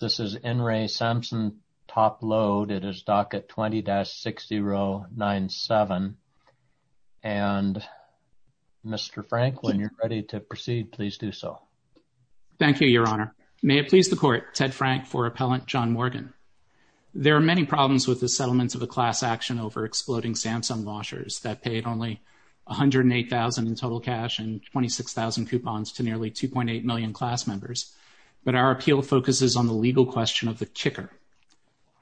This is in re Samsung Top-Load. It is docket 20-6097. And Mr. Frank, when you're ready to proceed, please do so. Thank you, Your Honor. May it please the court. Ted Frank for appellant John Morgan. There are many problems with the settlement of a class action over exploding Samsung washers that paid only 108,000 in total cash and 26,000 coupons to nearly 2.8 million class members. But our appeal focuses on the legal question of the kicker.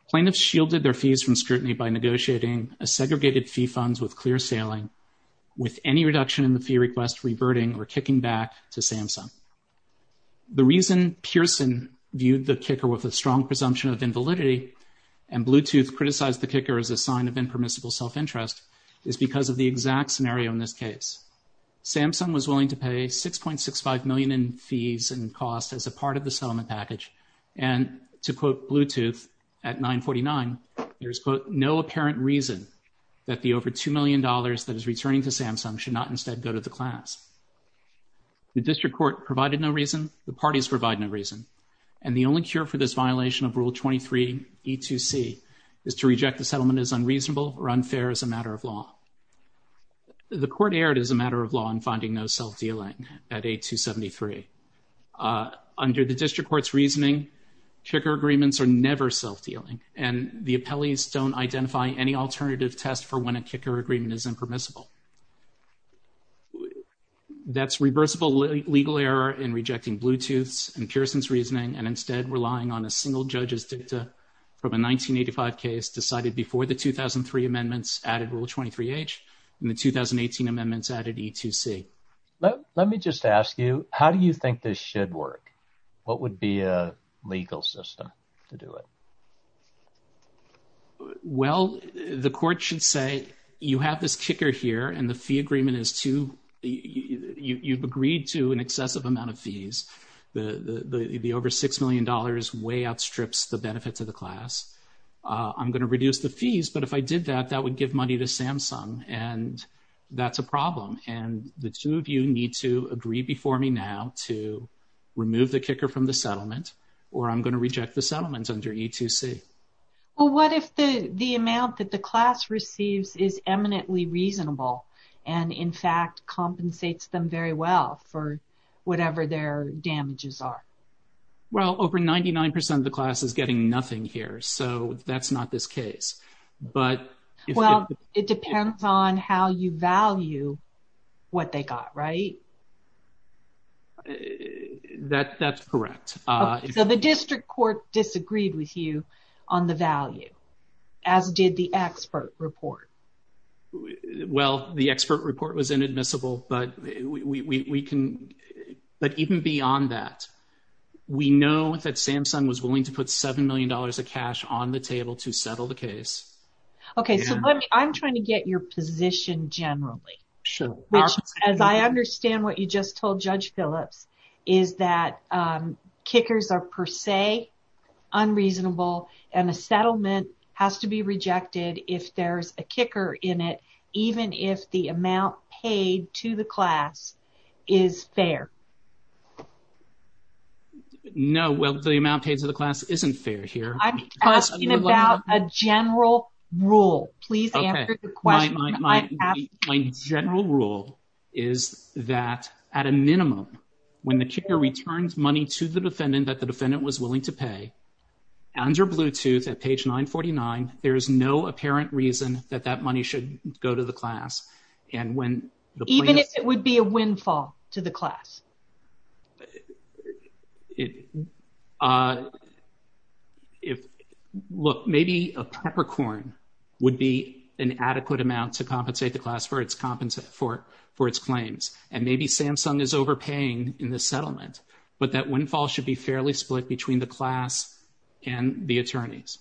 Plaintiffs shielded their fees from scrutiny by negotiating a segregated fee funds with clear sailing with any reduction in the fee request reverting or kicking back to Samsung. The reason Pearson viewed the kicker with a strong presumption of invalidity and Bluetooth criticized the kicker as a sign of impermissible self-interest is because of the exact scenario in this case. Samsung was willing to pay 6.65 million in fees and cost as a part of the settlement package and to quote Bluetooth at 949, there's quote, no apparent reason that the over $2 million that is returning to Samsung should not instead go to the class. The district court provided no reason, the parties provide no reason, and the only cure for this violation of rule 23 E2C is to reject the settlement as unreasonable or unfair as a matter of law. The court aired as a matter of law in finding no self-dealing at 8273. Under the district court's reasoning, kicker agreements are never self-dealing and the appellees don't identify any alternative test for when a kicker agreement is impermissible. That's reversible legal error in rejecting Bluetooth's and Pearson's reasoning and instead relying on a single judge's dicta from a 1985 case decided before the 2003 amendments added rule 23 H and the 2018 amendments added E2C. Let me just ask you, how do you think this should work? What would be a legal system to do it? Well, the court should say you have this kicker here and the fee agreement is too, you've agreed to an excessive amount of fees. The over $6 million way outstrips the benefits of the class. I'm going to reduce the fees, but if I did that, that would give money to Samsung and that's a problem and the two of you need to agree before me now to remove the kicker from the settlement or I'm going to reject the settlements under E2C. Well, what if the the amount that the class receives is eminently reasonable and in fact compensates them very well for whatever their damages are? Well, over 99% of the class is getting nothing here. So that's not this case. But well, it depends on how you value what they got, right? That's correct. So the district court disagreed with you on the value as did the expert report. Well, the expert report was inadmissible, but we can but even beyond that we know that Samsung was willing to put $7 million of cash on the table to settle the case. Okay. So let me, I'm trying to get your position generally. Sure, which as I understand what you just told Judge Phillips is that kickers are per se unreasonable and a settlement has to be rejected if there's a kicker in it, even if the amount paid to the class is fair. No, well, the amount paid to the class isn't fair here. I'm asking about a general rule. Please answer the question. My general rule is that at a minimum when the kicker returns money to the defendant that the defendant was willing to pay under Bluetooth at page 949. There is no apparent reason that that money should go to the class. And when even if it would be a windfall to the class. Look, maybe a peppercorn would be an adequate amount to compensate the class for its claims. And maybe Samsung is overpaying in the settlement, but that windfall should be fairly split between the class and the attorneys.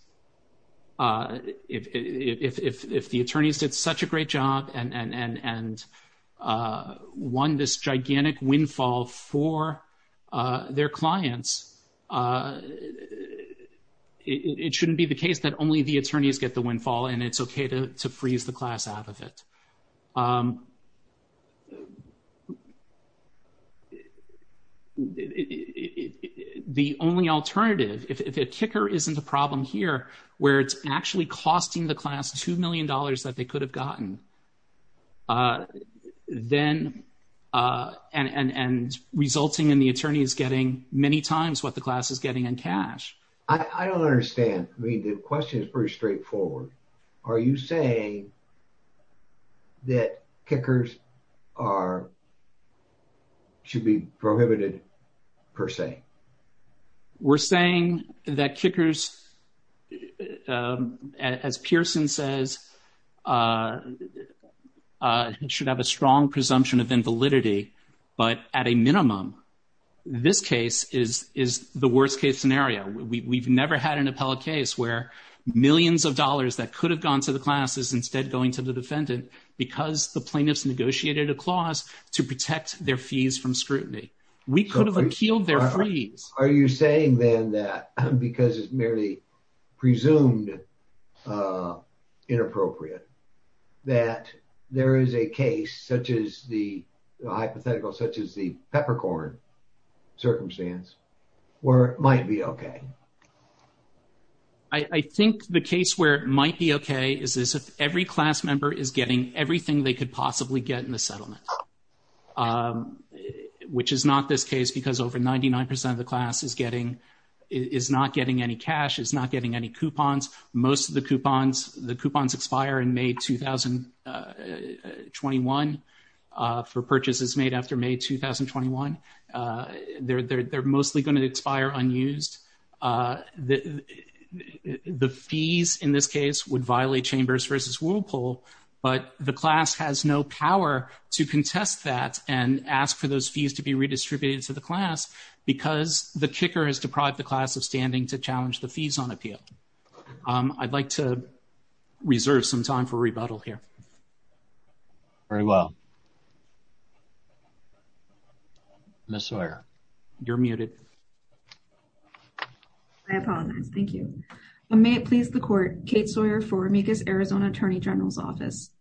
If the attorneys did such a great job and won this gigantic windfall for their clients, it shouldn't be the case that only the attorneys get the windfall and it's okay to freeze the class out of it. The only alternative, if a kicker isn't a problem here where it's actually costing the class two million dollars that they could have gotten, then and resulting in the attorneys getting many times what the class is getting in cash. I don't understand. I mean, the question is pretty straightforward. Are you saying that kickers are should be prohibited per se? We're saying that kickers, as Pearson says, should have a strong presumption of invalidity, but at a minimum, this case is the worst case scenario. We've never had an appellate case where millions of dollars that could have gone to the class is instead going to the defendant because the plaintiffs negotiated a clause to protect their fees from scrutiny. We could have appealed their freeze. Are you saying then that because it's merely presumed inappropriate that there is a case such as the hypothetical, such as the peppercorn circumstance where it might be okay? I think the case where it might be okay is if every class member is getting everything they could possibly get in the settlement, which is not this case because over 99% of the class is getting, is not getting any cash, is not getting any coupons. Most of the coupons, the coupons expire in May 2021 for purchases made after May 2021. They're mostly going to expire unused. The fees in this case would violate Chambers versus Whirlpool, but the class has no power to contest that and ask for those fees to be redistributed to the class because the kicker has deprived the class of standing to challenge the fees on appeal. I'd like to reserve some time for rebuttal here. Very well. Ms. Sawyer, you're muted. I apologize. Thank you. May it please the court, Kate Sawyer for Amicus Arizona Attorney General's Office.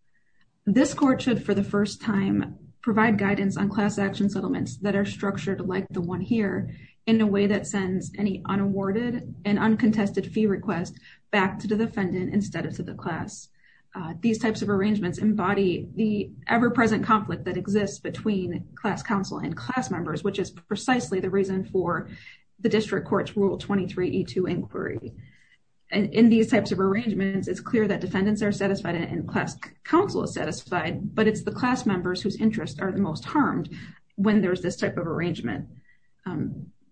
This court should for the first time provide guidance on class action settlements that are structured like the one here in a way that sends any unawarded and uncontested fee request back to the defendant instead of to the class. These types of arrangements embody the ever-present conflict that exists between class counsel and class members, which is precisely the reason for the District Court's Rule 23E2 inquiry. And in these types of arrangements, it's clear that defendants are satisfied and class counsel is satisfied, but it's the class members whose interests are the most harmed when there's this type of arrangement.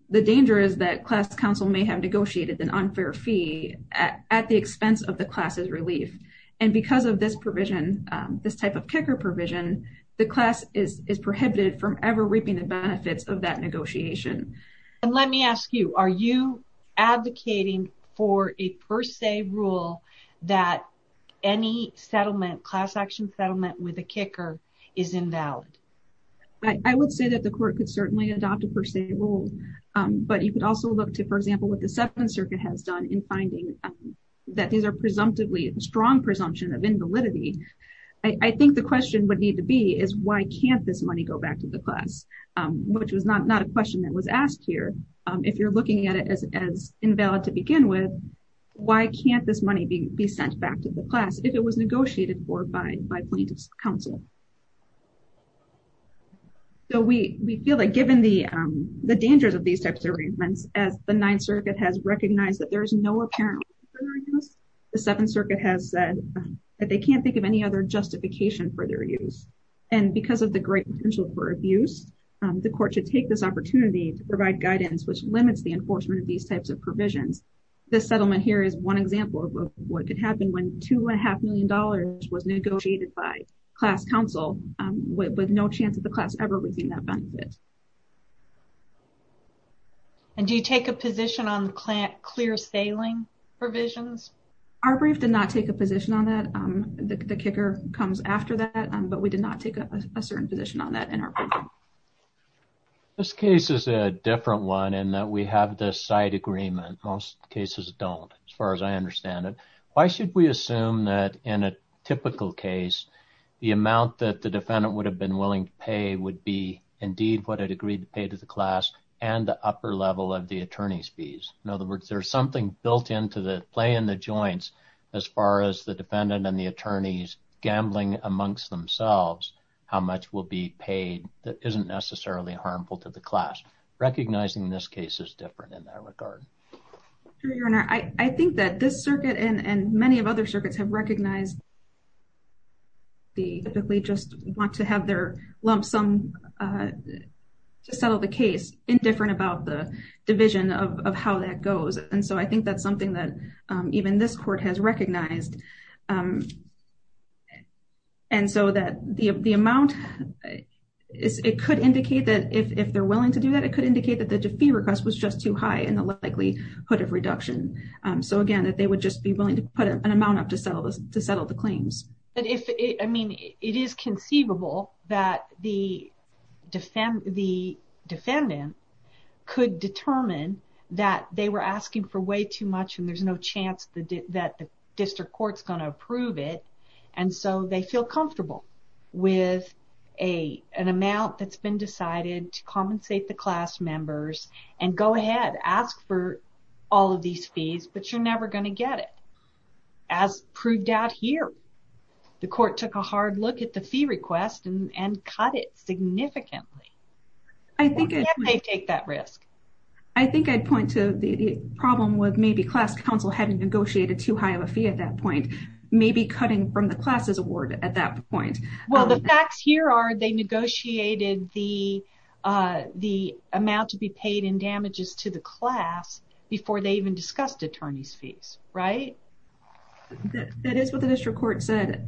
The danger is that class counsel may have negotiated an unfair fee at the expense of the class's relief. And because of this provision, this type of kicker provision, the class is prohibited from ever reaping the benefits of that negotiation. And let me ask you, are you advocating for a per se rule that any settlement, class action settlement with a kicker, is invalid? I would say that the court could certainly adopt a per se rule, but you could also look to, for example, what the Seventh Circuit has done in finding that these are presumptively strong presumption of invalidity. I think the question would need to be is why can't this money go back to the class, which was not a question that was asked here. If you're looking at it as invalid to begin with, why can't this money be sent back to the class if it was negotiated for by plaintiff's counsel? So we feel like, given the dangers of these types of arrangements, as the Ninth Circuit has recognized that there is no apparent concern in this, the Seventh Circuit has said that they can't think of any other justification for their use. And because of the great potential for abuse, the court should take this opportunity to provide guidance which limits the enforcement of these types of provisions. This settlement here is one example of what could happen when two and a half million dollars was negotiated by class counsel with no chance of the class ever receiving that benefit. And do you take a position on clear sailing provisions? Our brief did not take a position on that. The kicker comes after that, but we did not take a certain position on that in our brief. This case is a different one in that we have this side agreement. Most cases don't, as far as I understand it. Why should we assume that in a typical case, the amount that the defendant would have been willing to pay would be indeed what it agreed to pay to the class and the upper level of the attorney's fees. In other words, there's something built into the play in the joints. As far as the defendant and the attorneys gambling amongst themselves, how much will be paid that isn't necessarily harmful to the class. Recognizing this case is different in that regard. I think that this circuit and many of other circuits have recognized they typically just want to have their lump sum to settle the case, indifferent about the division of how that goes. And so I think that's something that even this court has recognized. And so that the amount it could indicate that if they're willing to do that, it could indicate that the fee request was just too high and the likelihood of reduction. So again, that they would just be willing to put an amount up to settle this to settle the claims. But if I mean it is conceivable that the defendant could determine that they were asking for way too much and there's no chance that the district court's going to approve it. And so they feel comfortable with an amount that's been decided to compensate the class members and go ahead ask for all of these fees, but you're never going to get it. As proved out here, the court took a hard look at the fee request and cut it significantly. I think they take that risk. I think I'd point to the problem with maybe class council having negotiated too high of a fee at that point, maybe cutting from the class's award at that point. Well, the facts here are they negotiated the the amount to be paid in damages to the class before they even discussed attorneys fees, right? That is what the district court said.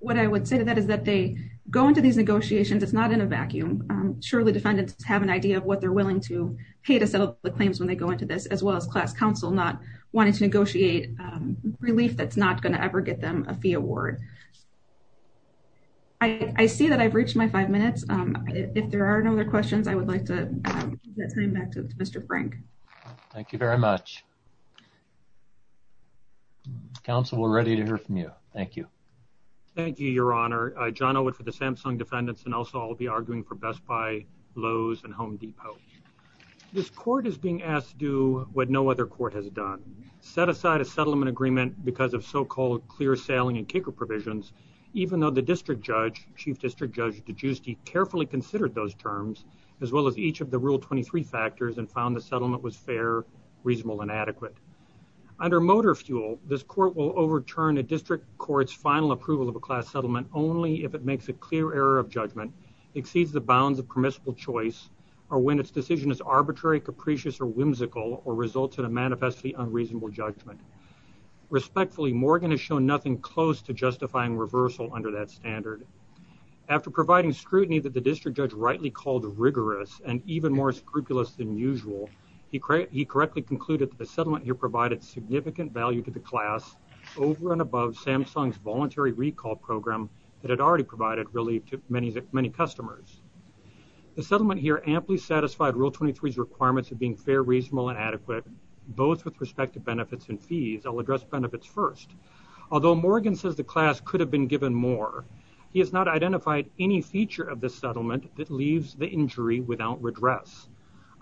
What I would say to that is that they go into these negotiations. It's not in a vacuum. Surely defendants have an idea of what they're willing to pay to settle the claims when they go into this as well as class council not wanting to negotiate relief that's not going to ever get them a fee award. I see that I've reached my five minutes. If there are no other questions, I would like to turn back to Mr. Frank. Thank you very much. Council, we're ready to hear from you. Thank you. Thank you, your honor. John Elwood for the Samsung defendants and also I'll be arguing for Best Buy Lowe's and Home Depot. This court is being asked to do what no other court has done. Set aside a settlement agreement because of so-called clear sailing and kicker provisions, even though the district judge, chief district judge, DeGiusti, carefully considered those terms as well as each of the rule 23 factors and found the settlement was fair, reasonable and adequate. Under motor fuel, this court will overturn a district court's final approval of a class settlement only if it makes a clear error of judgment exceeds the bounds of permissible choice or when its decision is arbitrary, capricious or whimsical or results in a manifestly unreasonable judgment. Respectfully, Morgan has shown nothing close to justifying reversal under that standard. After providing scrutiny that the district judge rightly called rigorous and even more scrupulous than usual, he correctly concluded that the settlement here provided significant value to the class over and above Samsung's voluntary recall program that had already provided relief to many customers. The settlement here amply satisfied rule 23's requirements of being fair, reasonable and adequate both with respect to benefits and fees. I'll address benefits first. Although Morgan says the class could have been given more, he has not identified any feature of this settlement that leaves the injury without redress.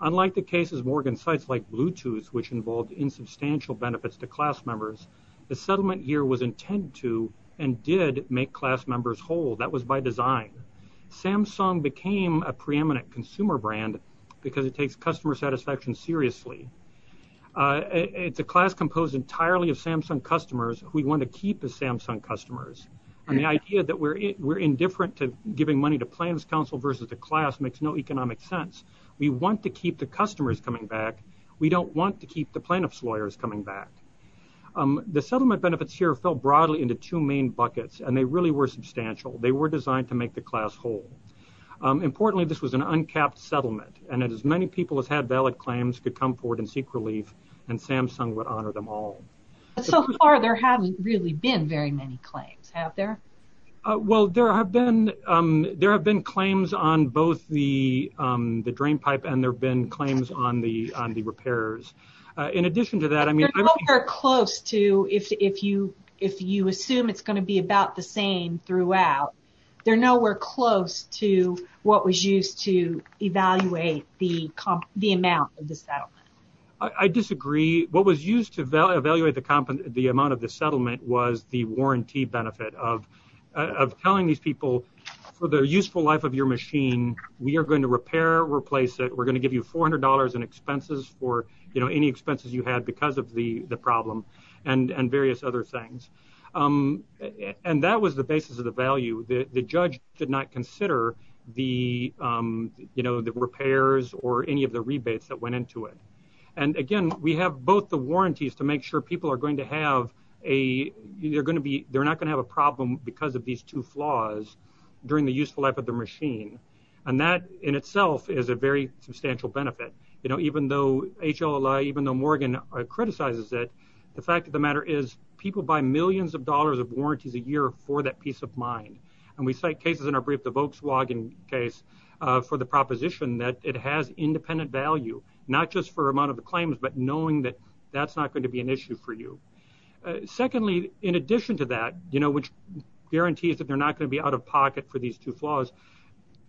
Unlike the cases Morgan cites like Bluetooth which involved insubstantial benefits to class members, the settlement here was intended to and did make class members whole. That was by design. Samsung became a preeminent consumer brand because it takes customer satisfaction seriously. It's a class composed entirely of Samsung customers who we want to keep as Samsung customers and the idea that we're indifferent to giving money to Plans Council versus the class makes no economic sense. We want to keep the customers coming back. We don't want to keep the plaintiff's lawyers coming back. The settlement benefits here fell broadly into two main buckets and they really were substantial. They were designed to make the class whole. Importantly, this was an uncapped settlement and as many people as had valid claims could come forward and seek relief and Samsung would honor them all. So far, there haven't really been very many claims, have there? Well, there have been claims on both the drain pipe and there have been claims on the repairs. In addition to that, I mean... You're nowhere close to if you assume it's going to be about the same throughout. They're nowhere close to what was used to evaluate the amount of the settlement. I disagree. What was used to evaluate the amount of the settlement was the warranty benefit of telling these people for the useful life of your machine, we are going to repair, replace it. We're going to give you $400 in expenses for any expenses you had because of the problem and various other things. And that was the basis of the value. The judge did not consider the repairs or any of the rebates that went into it. And again, we have both the warranties to make sure people are going to have a... They're not going to have a problem because of these two flaws during the useful life of the machine. And that in itself is a very substantial benefit. Even though HLAA, even though Morgan criticizes it, the fact of the matter is people buy millions of dollars of warranties a year for that peace of mind. And we cite cases in our brief, the Volkswagen case, for the proposition that it has independent value, not just for amount of the claims, but knowing that that's not going to be an issue for you. Secondly, in addition to that, which guarantees that they're not going to be out of pocket for these two flaws,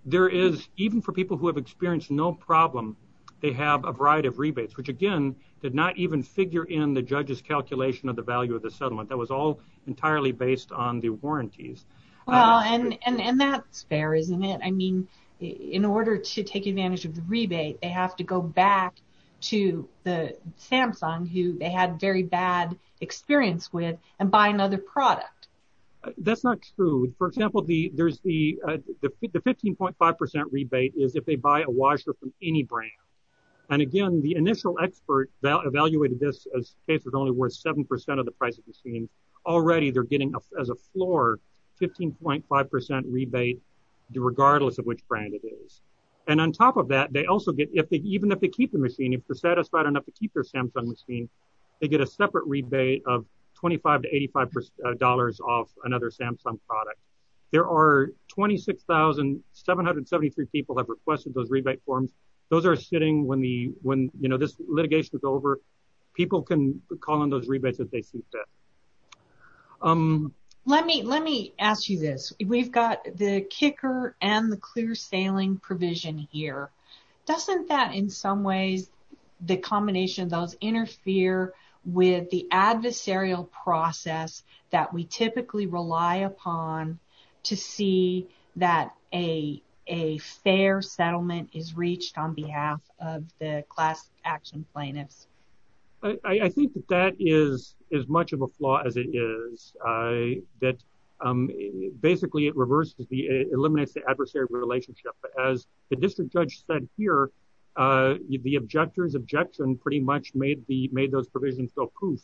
there is, even for people who have experienced no problem, they have a variety of rebates, which again, did not even figure in the judge's calculation of the value of the settlement. That was all entirely based on the warranties. Well, and that's fair, isn't it? I mean, in order to take advantage of the rebate, they have to go back to the Samsung who they had very bad experience with and buy another product. That's not true. For example, there's the 15.5% rebate is if they buy a washer from any brand. And again, the initial expert evaluated this as case was only worth 7% of the price of the scene already. They're getting as a floor 15.5% rebate regardless of which brand it is. And on top of that, they also get if they even if they keep the machine, if they're satisfied enough to keep their Samsung machine, they get a separate rebate of 25 to 85 dollars off another Samsung product. There are 26,773 people have requested those rebate forms. Those are sitting when the when you know, this litigation is over. People can call on those rebates as they see fit. Let me let me ask you this. We've got the kicker and the clear sailing provision here. Doesn't that in some ways, the combination of those interfere with the adversarial process that we typically rely upon to see that a fair settlement is reached on behalf of the class action plaintiffs. I think that that is as much of a flaw as it is that basically it reverses the eliminates the adversarial relationship as the district judge said here the objectors objection pretty much made the made those provisions go poof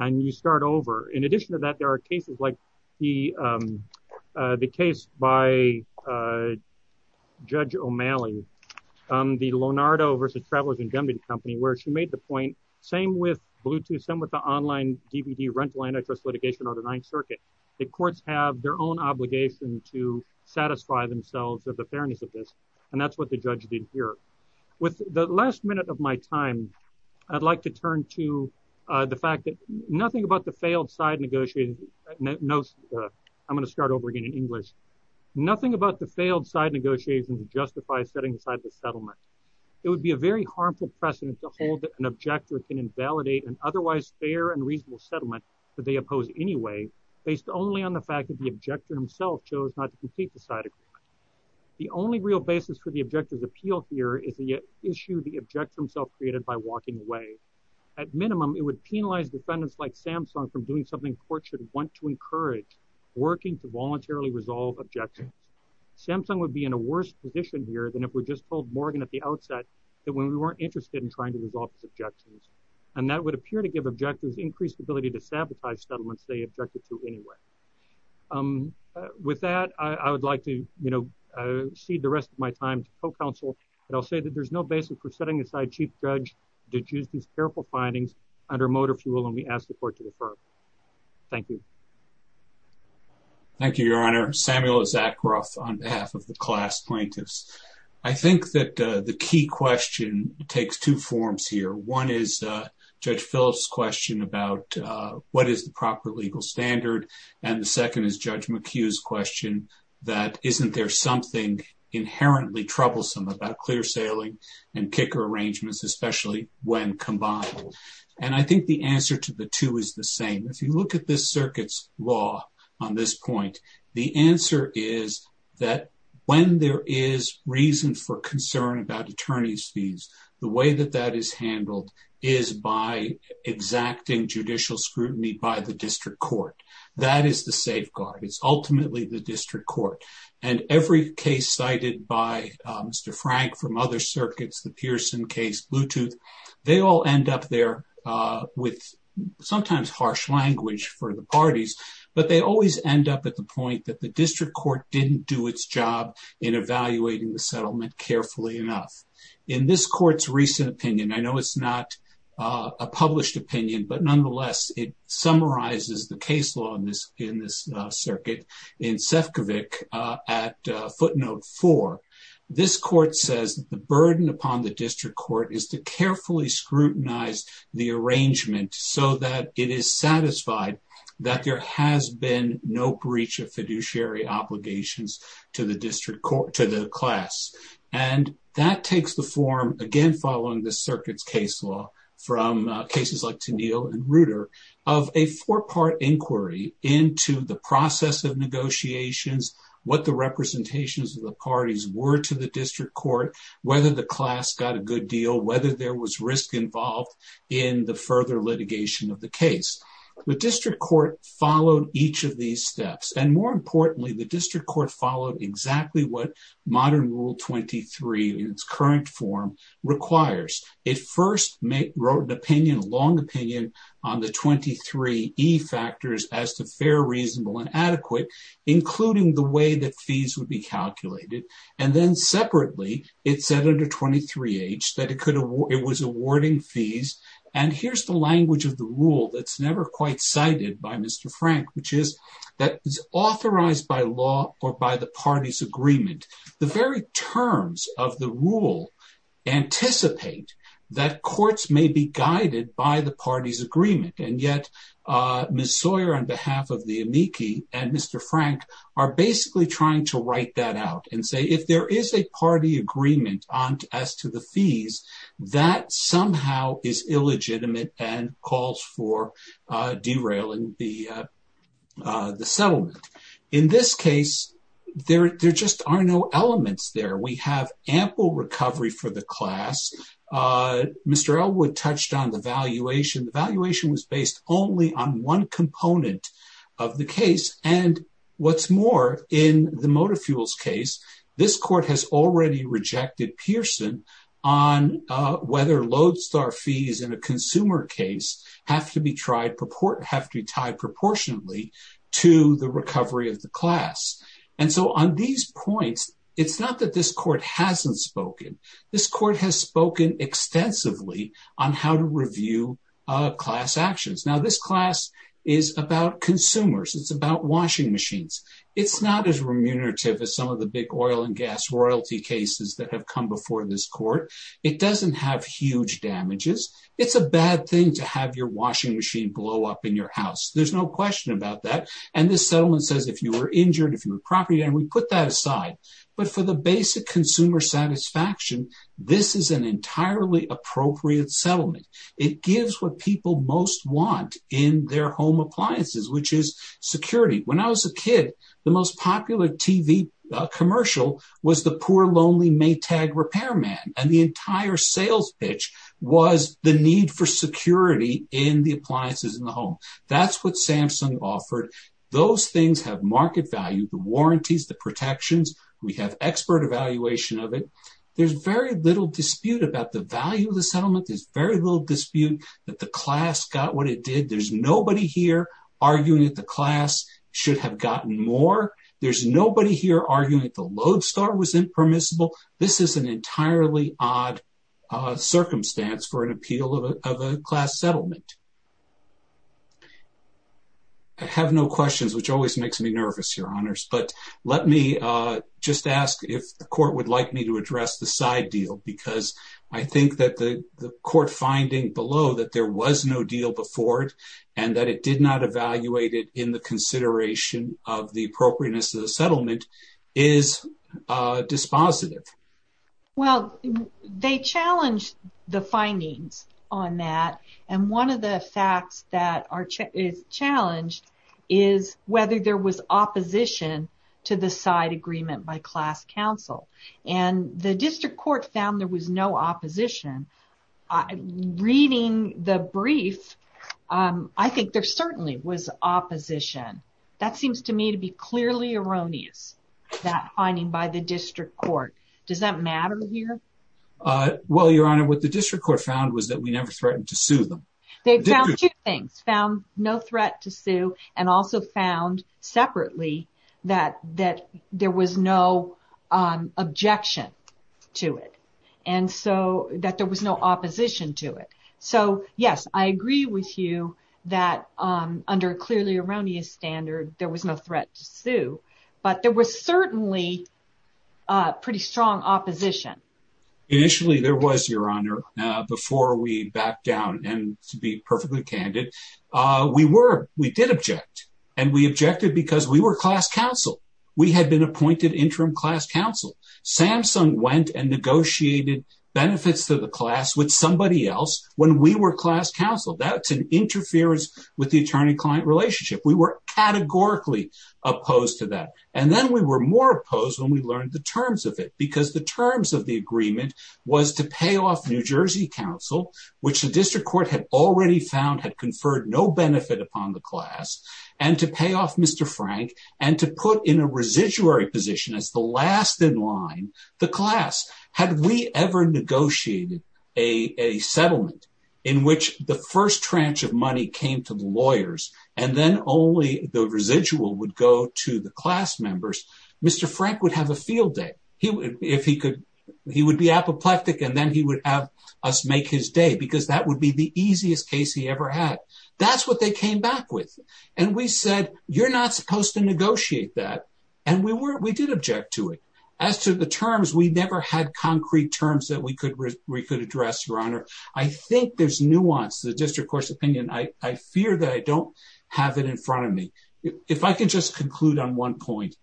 and you start over. In addition to that, there are cases like the the case by Judge O'Malley the Lonardo versus Travelers and Jumping Company where she made the point same with Bluetooth some with the online DVD rental antitrust litigation or the Ninth Circuit. The courts have their own obligation to satisfy themselves of the fairness of this and that's what the judge did here with the last minute of my time. I'd like to turn to the fact that nothing about the failed side negotiated. No, I'm going to start over again in English. Nothing about the failed side negotiations justify setting aside the settlement. It would be a very harmful precedent to hold that an objector can invalidate an otherwise fair and reasonable settlement that they oppose. Anyway, based only on the fact that the objector himself chose not to complete the side agreement. The only real basis for the objectors appeal here is the issue the objector himself created by walking away at minimum. It would penalize defendants like Samsung from doing something court should want to encourage working to voluntarily resolve objections. Samsung would be in a worse position here than if we're just pulled Morgan at the outset that when we weren't interested in trying to resolve his objections and that would appear to give objectors increased ability to sabotage settlements. They objected to anyway. With that, I would like to, you know, cede the rest of my time to co-counsel and I'll say that there's no basis for setting aside Chief Judge to choose these careful findings under motor fuel and we ask the court to defer. Thank you. Thank you, Your Honor. Samuel is at gruff on behalf of the class plaintiffs. I think that the key question takes two forms here. One is Judge Phillips question about what is the proper legal standard and the second is Judge McHugh's question that isn't there something inherently troublesome about clear sailing and kicker arrangements, especially when combined. And I think the answer to the two is the same. If you look at this circuit's law on this point, the answer is that when there is reason for concern about attorneys fees, the way that that is handled is by exacting judicial scrutiny by the district court. That is the safeguard. It's ultimately the district court and every case cited by Mr. Frank from other circuits, the Pearson case, Bluetooth, they all end up there with sometimes harsh language for the parties, but they always end up at the point that the district court didn't do its job in evaluating the settlement carefully enough in this court's recent opinion. I know it's not a published opinion, but nonetheless it summarizes the case law in this in this circuit in Sefcovic at footnote for this court says the burden upon the district court is to carefully scrutinize the arrangement so that it is satisfied that there has been no breach of fiduciary obligations to the district court to the class and that takes the form again following the circuits case law from cases like Tennille and Reuter of a four-part inquiry into the process of negotiations, what the representations of the parties were to the district court, whether the class got a good deal, whether there was risk involved in the further litigation of the case. The district court followed each of these steps and more importantly the district court followed exactly what modern rule 23 in its current form requires. It first wrote an opinion, a long opinion, on the 23 E factors as to fair, reasonable, and adequate, including the way that fees would be calculated and then separately, it said under 23 H that it was awarding fees and here's the language of the rule that's never quite cited by Mr. Frank, which is that is authorized by law or by the party's agreement. The very terms of the rule anticipate that courts may be guided by the party's agreement and yet Ms. Sawyer on behalf of the amici and Mr. Frank are basically trying to write that out and say if there is a party agreement on as to the fees that somehow is illegitimate and calls for derailing the the settlement. In this case, there just are no elements there. We have ample recovery for the class. Mr. Elwood touched on the valuation. The valuation was based only on one component of the case and what's more in the motor fuels case, this court has already rejected Pearson on whether Lodestar fees in a consumer case have to be tried proportionately to the recovery of the class. And so on these points, it's not that this court hasn't spoken. This court has spoken extensively on how to review class actions. Now, this class is about consumers. It's about washing machines. It's not as remunerative as some of the big oil and gas royalty cases that have come before this court. It doesn't have huge damages. It's a bad thing to have your washing machine blow up in your house. There's no question about that. And this settlement says if you were injured, if you were property and we put that aside, but for the basic consumer satisfaction, this is an entirely appropriate settlement. It gives what people most want in their home appliances, which is security. When I was a kid, the most popular TV commercial was the poor lonely Maytag repairman and the entire sales pitch was the need for security in the appliances in the home. That's what Samsung offered. Those things have market value, the warranties, the protections. We have expert evaluation of it. There's very little dispute about the value of the settlement. There's very little dispute that the class got what it did. There's nobody here arguing that the class should have gotten more. There's nobody here arguing that the lodestar was impermissible. This is an entirely odd circumstance for an appeal of a class settlement. I have no questions, which always makes me nervous, Your Honors, but let me just ask if the court would like me to address the side deal because I think that the court finding below that there was no deal before it and that it did not evaluate it in the consideration of the appropriateness of the settlement is dispositive. Well, they challenged the findings on that and one of the facts that are challenged is whether there was opposition to the side agreement by class counsel and the district court found there was no opposition. Reading the brief, I think there certainly was opposition. That seems to me to be clearly erroneous, that finding by the district court. Does that matter here? Well, Your Honor, what the district court found was that we never threatened to sue them. They found two things, found no threat to sue and also found separately that there was no objection to it and so that there was no opposition to it. So yes, I agree with you that under a clearly erroneous standard, there was no threat to sue but there was certainly pretty strong opposition. Initially, there was, Your Honor, before we back down and to be perfectly candid. We were, we did object and we objected because we were class counsel. We had been appointed interim class counsel. Samsung went and negotiated benefits to the class with somebody else when we were class counsel. That's an interference with the attorney-client relationship. We were categorically opposed to that and then we were more opposed when we learned the terms of it because the terms of the agreement was to pay off New Jersey Council, which the district court had already found had conferred no benefit upon the class and to pay off Mr. Frank and to put in a residuary position as the last in line, the class. Had we ever negotiated a settlement in which the first tranche of money came to the lawyers and then only the residual would go to the class members, Mr. Frank would have a field day. He would, if he could, he would be apoplectic and then he would have us make his day because that would be the easiest case he ever had. That's what they came back with and we said, you're not supposed to negotiate that and we were, we did object to it. As to the terms, we never had concrete terms that we could address, Your Honor. I think there's nuance to the district court's opinion. I fear that I don't have it in front of me. If I can just conclude on one point,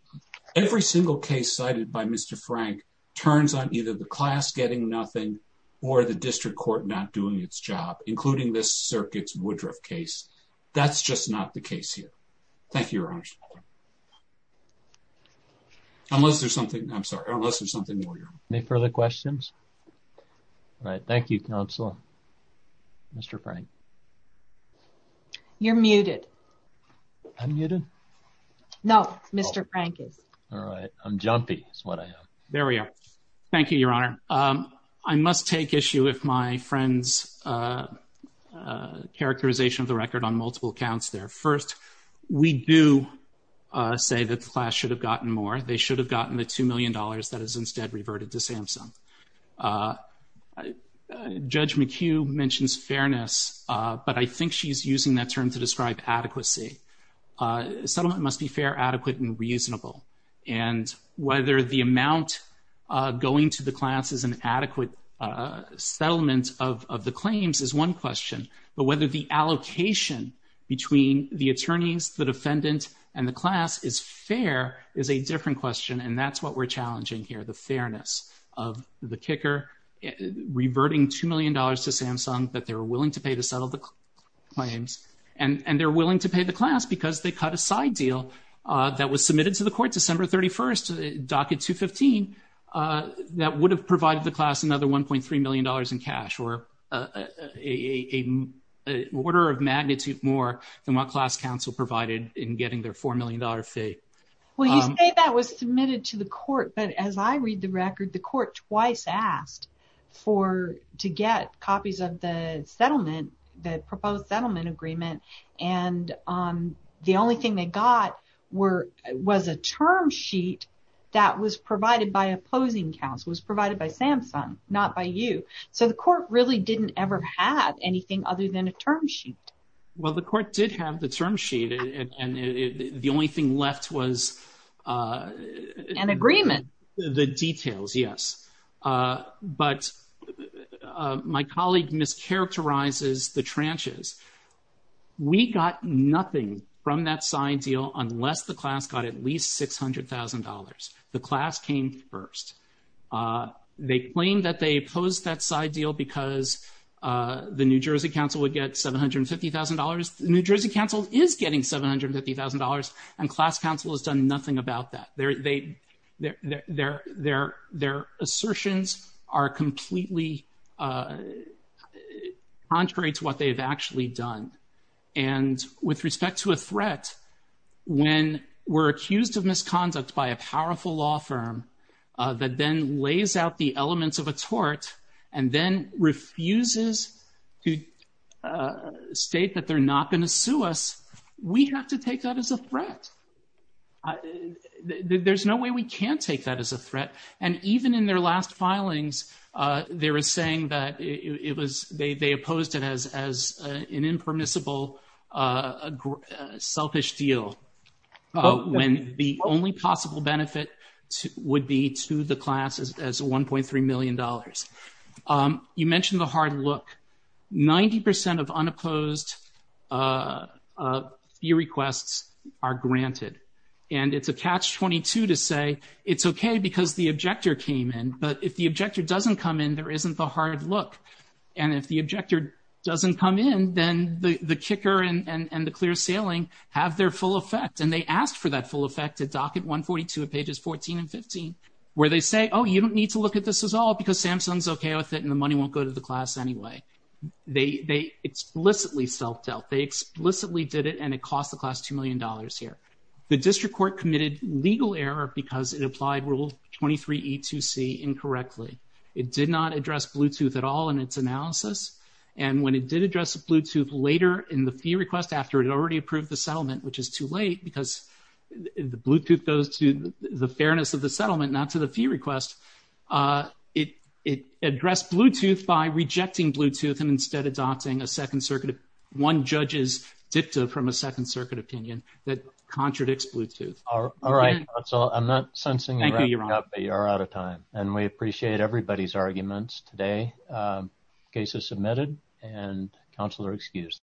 every single case cited by Mr. Frank turns on either the class getting nothing or the district court not doing its job, including this circuit's Woodruff case. That's just not the case here. Thank you, Your Honor. Unless there's something, I'm sorry, unless there's something more, Your Honor. Any further questions? All right. Thank you, Counselor. Mr. Frank. You're muted. I'm muted? No, Mr. Frank is. All right. I'm jumpy, is what I am. There we are. Thank you, Your Honor. I must take issue with my friend's characterization of the record on multiple counts there. First, we do say that the class should have gotten more. They should have gotten the $2 million that is instead reverted to Samsung. Judge McHugh mentions fairness, but I think she's using that term to describe adequacy. Settlement must be fair, adequate, and reasonable. And whether the amount going to the class is an adequate settlement of the claims is one question, but whether the allocation between the attorneys, the defendant, and the class is fair is a different question. And that's what we're challenging here, the fairness of the kicker reverting $2 million to Samsung that they were willing to pay to settle the claims. And they're willing to pay the class because they cut a side deal that was submitted to the court December 31st, docket 215, that would have provided the class another $1.3 million in cash or an order of magnitude more than what class counsel provided in getting their $4 million fee. Well, you say that was submitted to the court, but as I read the record, the court twice asked for, to get copies of the settlement, the proposed settlement agreement, and the only thing they got was a term sheet that was provided by opposing counsel, was provided by Samsung, not by you. So the court really didn't ever have anything other than a term sheet. Well, the court did have the term sheet and the only thing left was an agreement. The details, yes. But my colleague mischaracterizes the tranches. We got nothing from that side deal unless the class got at least $600,000. The class came first. They claimed that they opposed that side deal because the New Jersey counsel would get $750,000. New Jersey counsel is getting $750,000 and class counsel has done nothing about that. Their assertions are completely contrary to what they've actually done. And with respect to a threat, when we're accused of misconduct by a powerful law firm that then lays out the elements of a tort and then refuses to state that they're not going to sue us, we have to take that as a threat. There's no way we can take that as a threat. And even in their last filings, they were saying that it was, they opposed it as an impermissible selfish deal when the only possible benefit would be to the class as $1.3 million. You mentioned the hard look. 90% of unopposed fee requests are granted and it's a catch-22 to say, it's okay because the objector came in. But if the objector doesn't come in, there isn't the hard look. And if the objector doesn't come in, then the kicker and the clear sailing have their full effect. And they asked for that full effect at docket 142 at pages 14 and 15, where they say, oh, you don't need to look at this at all because Samsung's okay with it and the money won't go to the class anyway. They explicitly self-dealt. They explicitly did it and it cost the class $2 million here. The district court committed legal error because it applied Rule 23 E2C incorrectly. It did not address Bluetooth at all in its analysis. And when it did address Bluetooth later in the fee request after it already approved the settlement, which is too late because the Bluetooth goes to the fairness of the settlement, not to the fee request. It addressed Bluetooth by rejecting Bluetooth and instead adopting a Second Circuit, one judge's dicta from a Second Circuit opinion that contradicts Bluetooth. All right, that's all. I'm not sensing you're out of time. And we appreciate everybody's arguments today. Case is submitted and counsel are excused.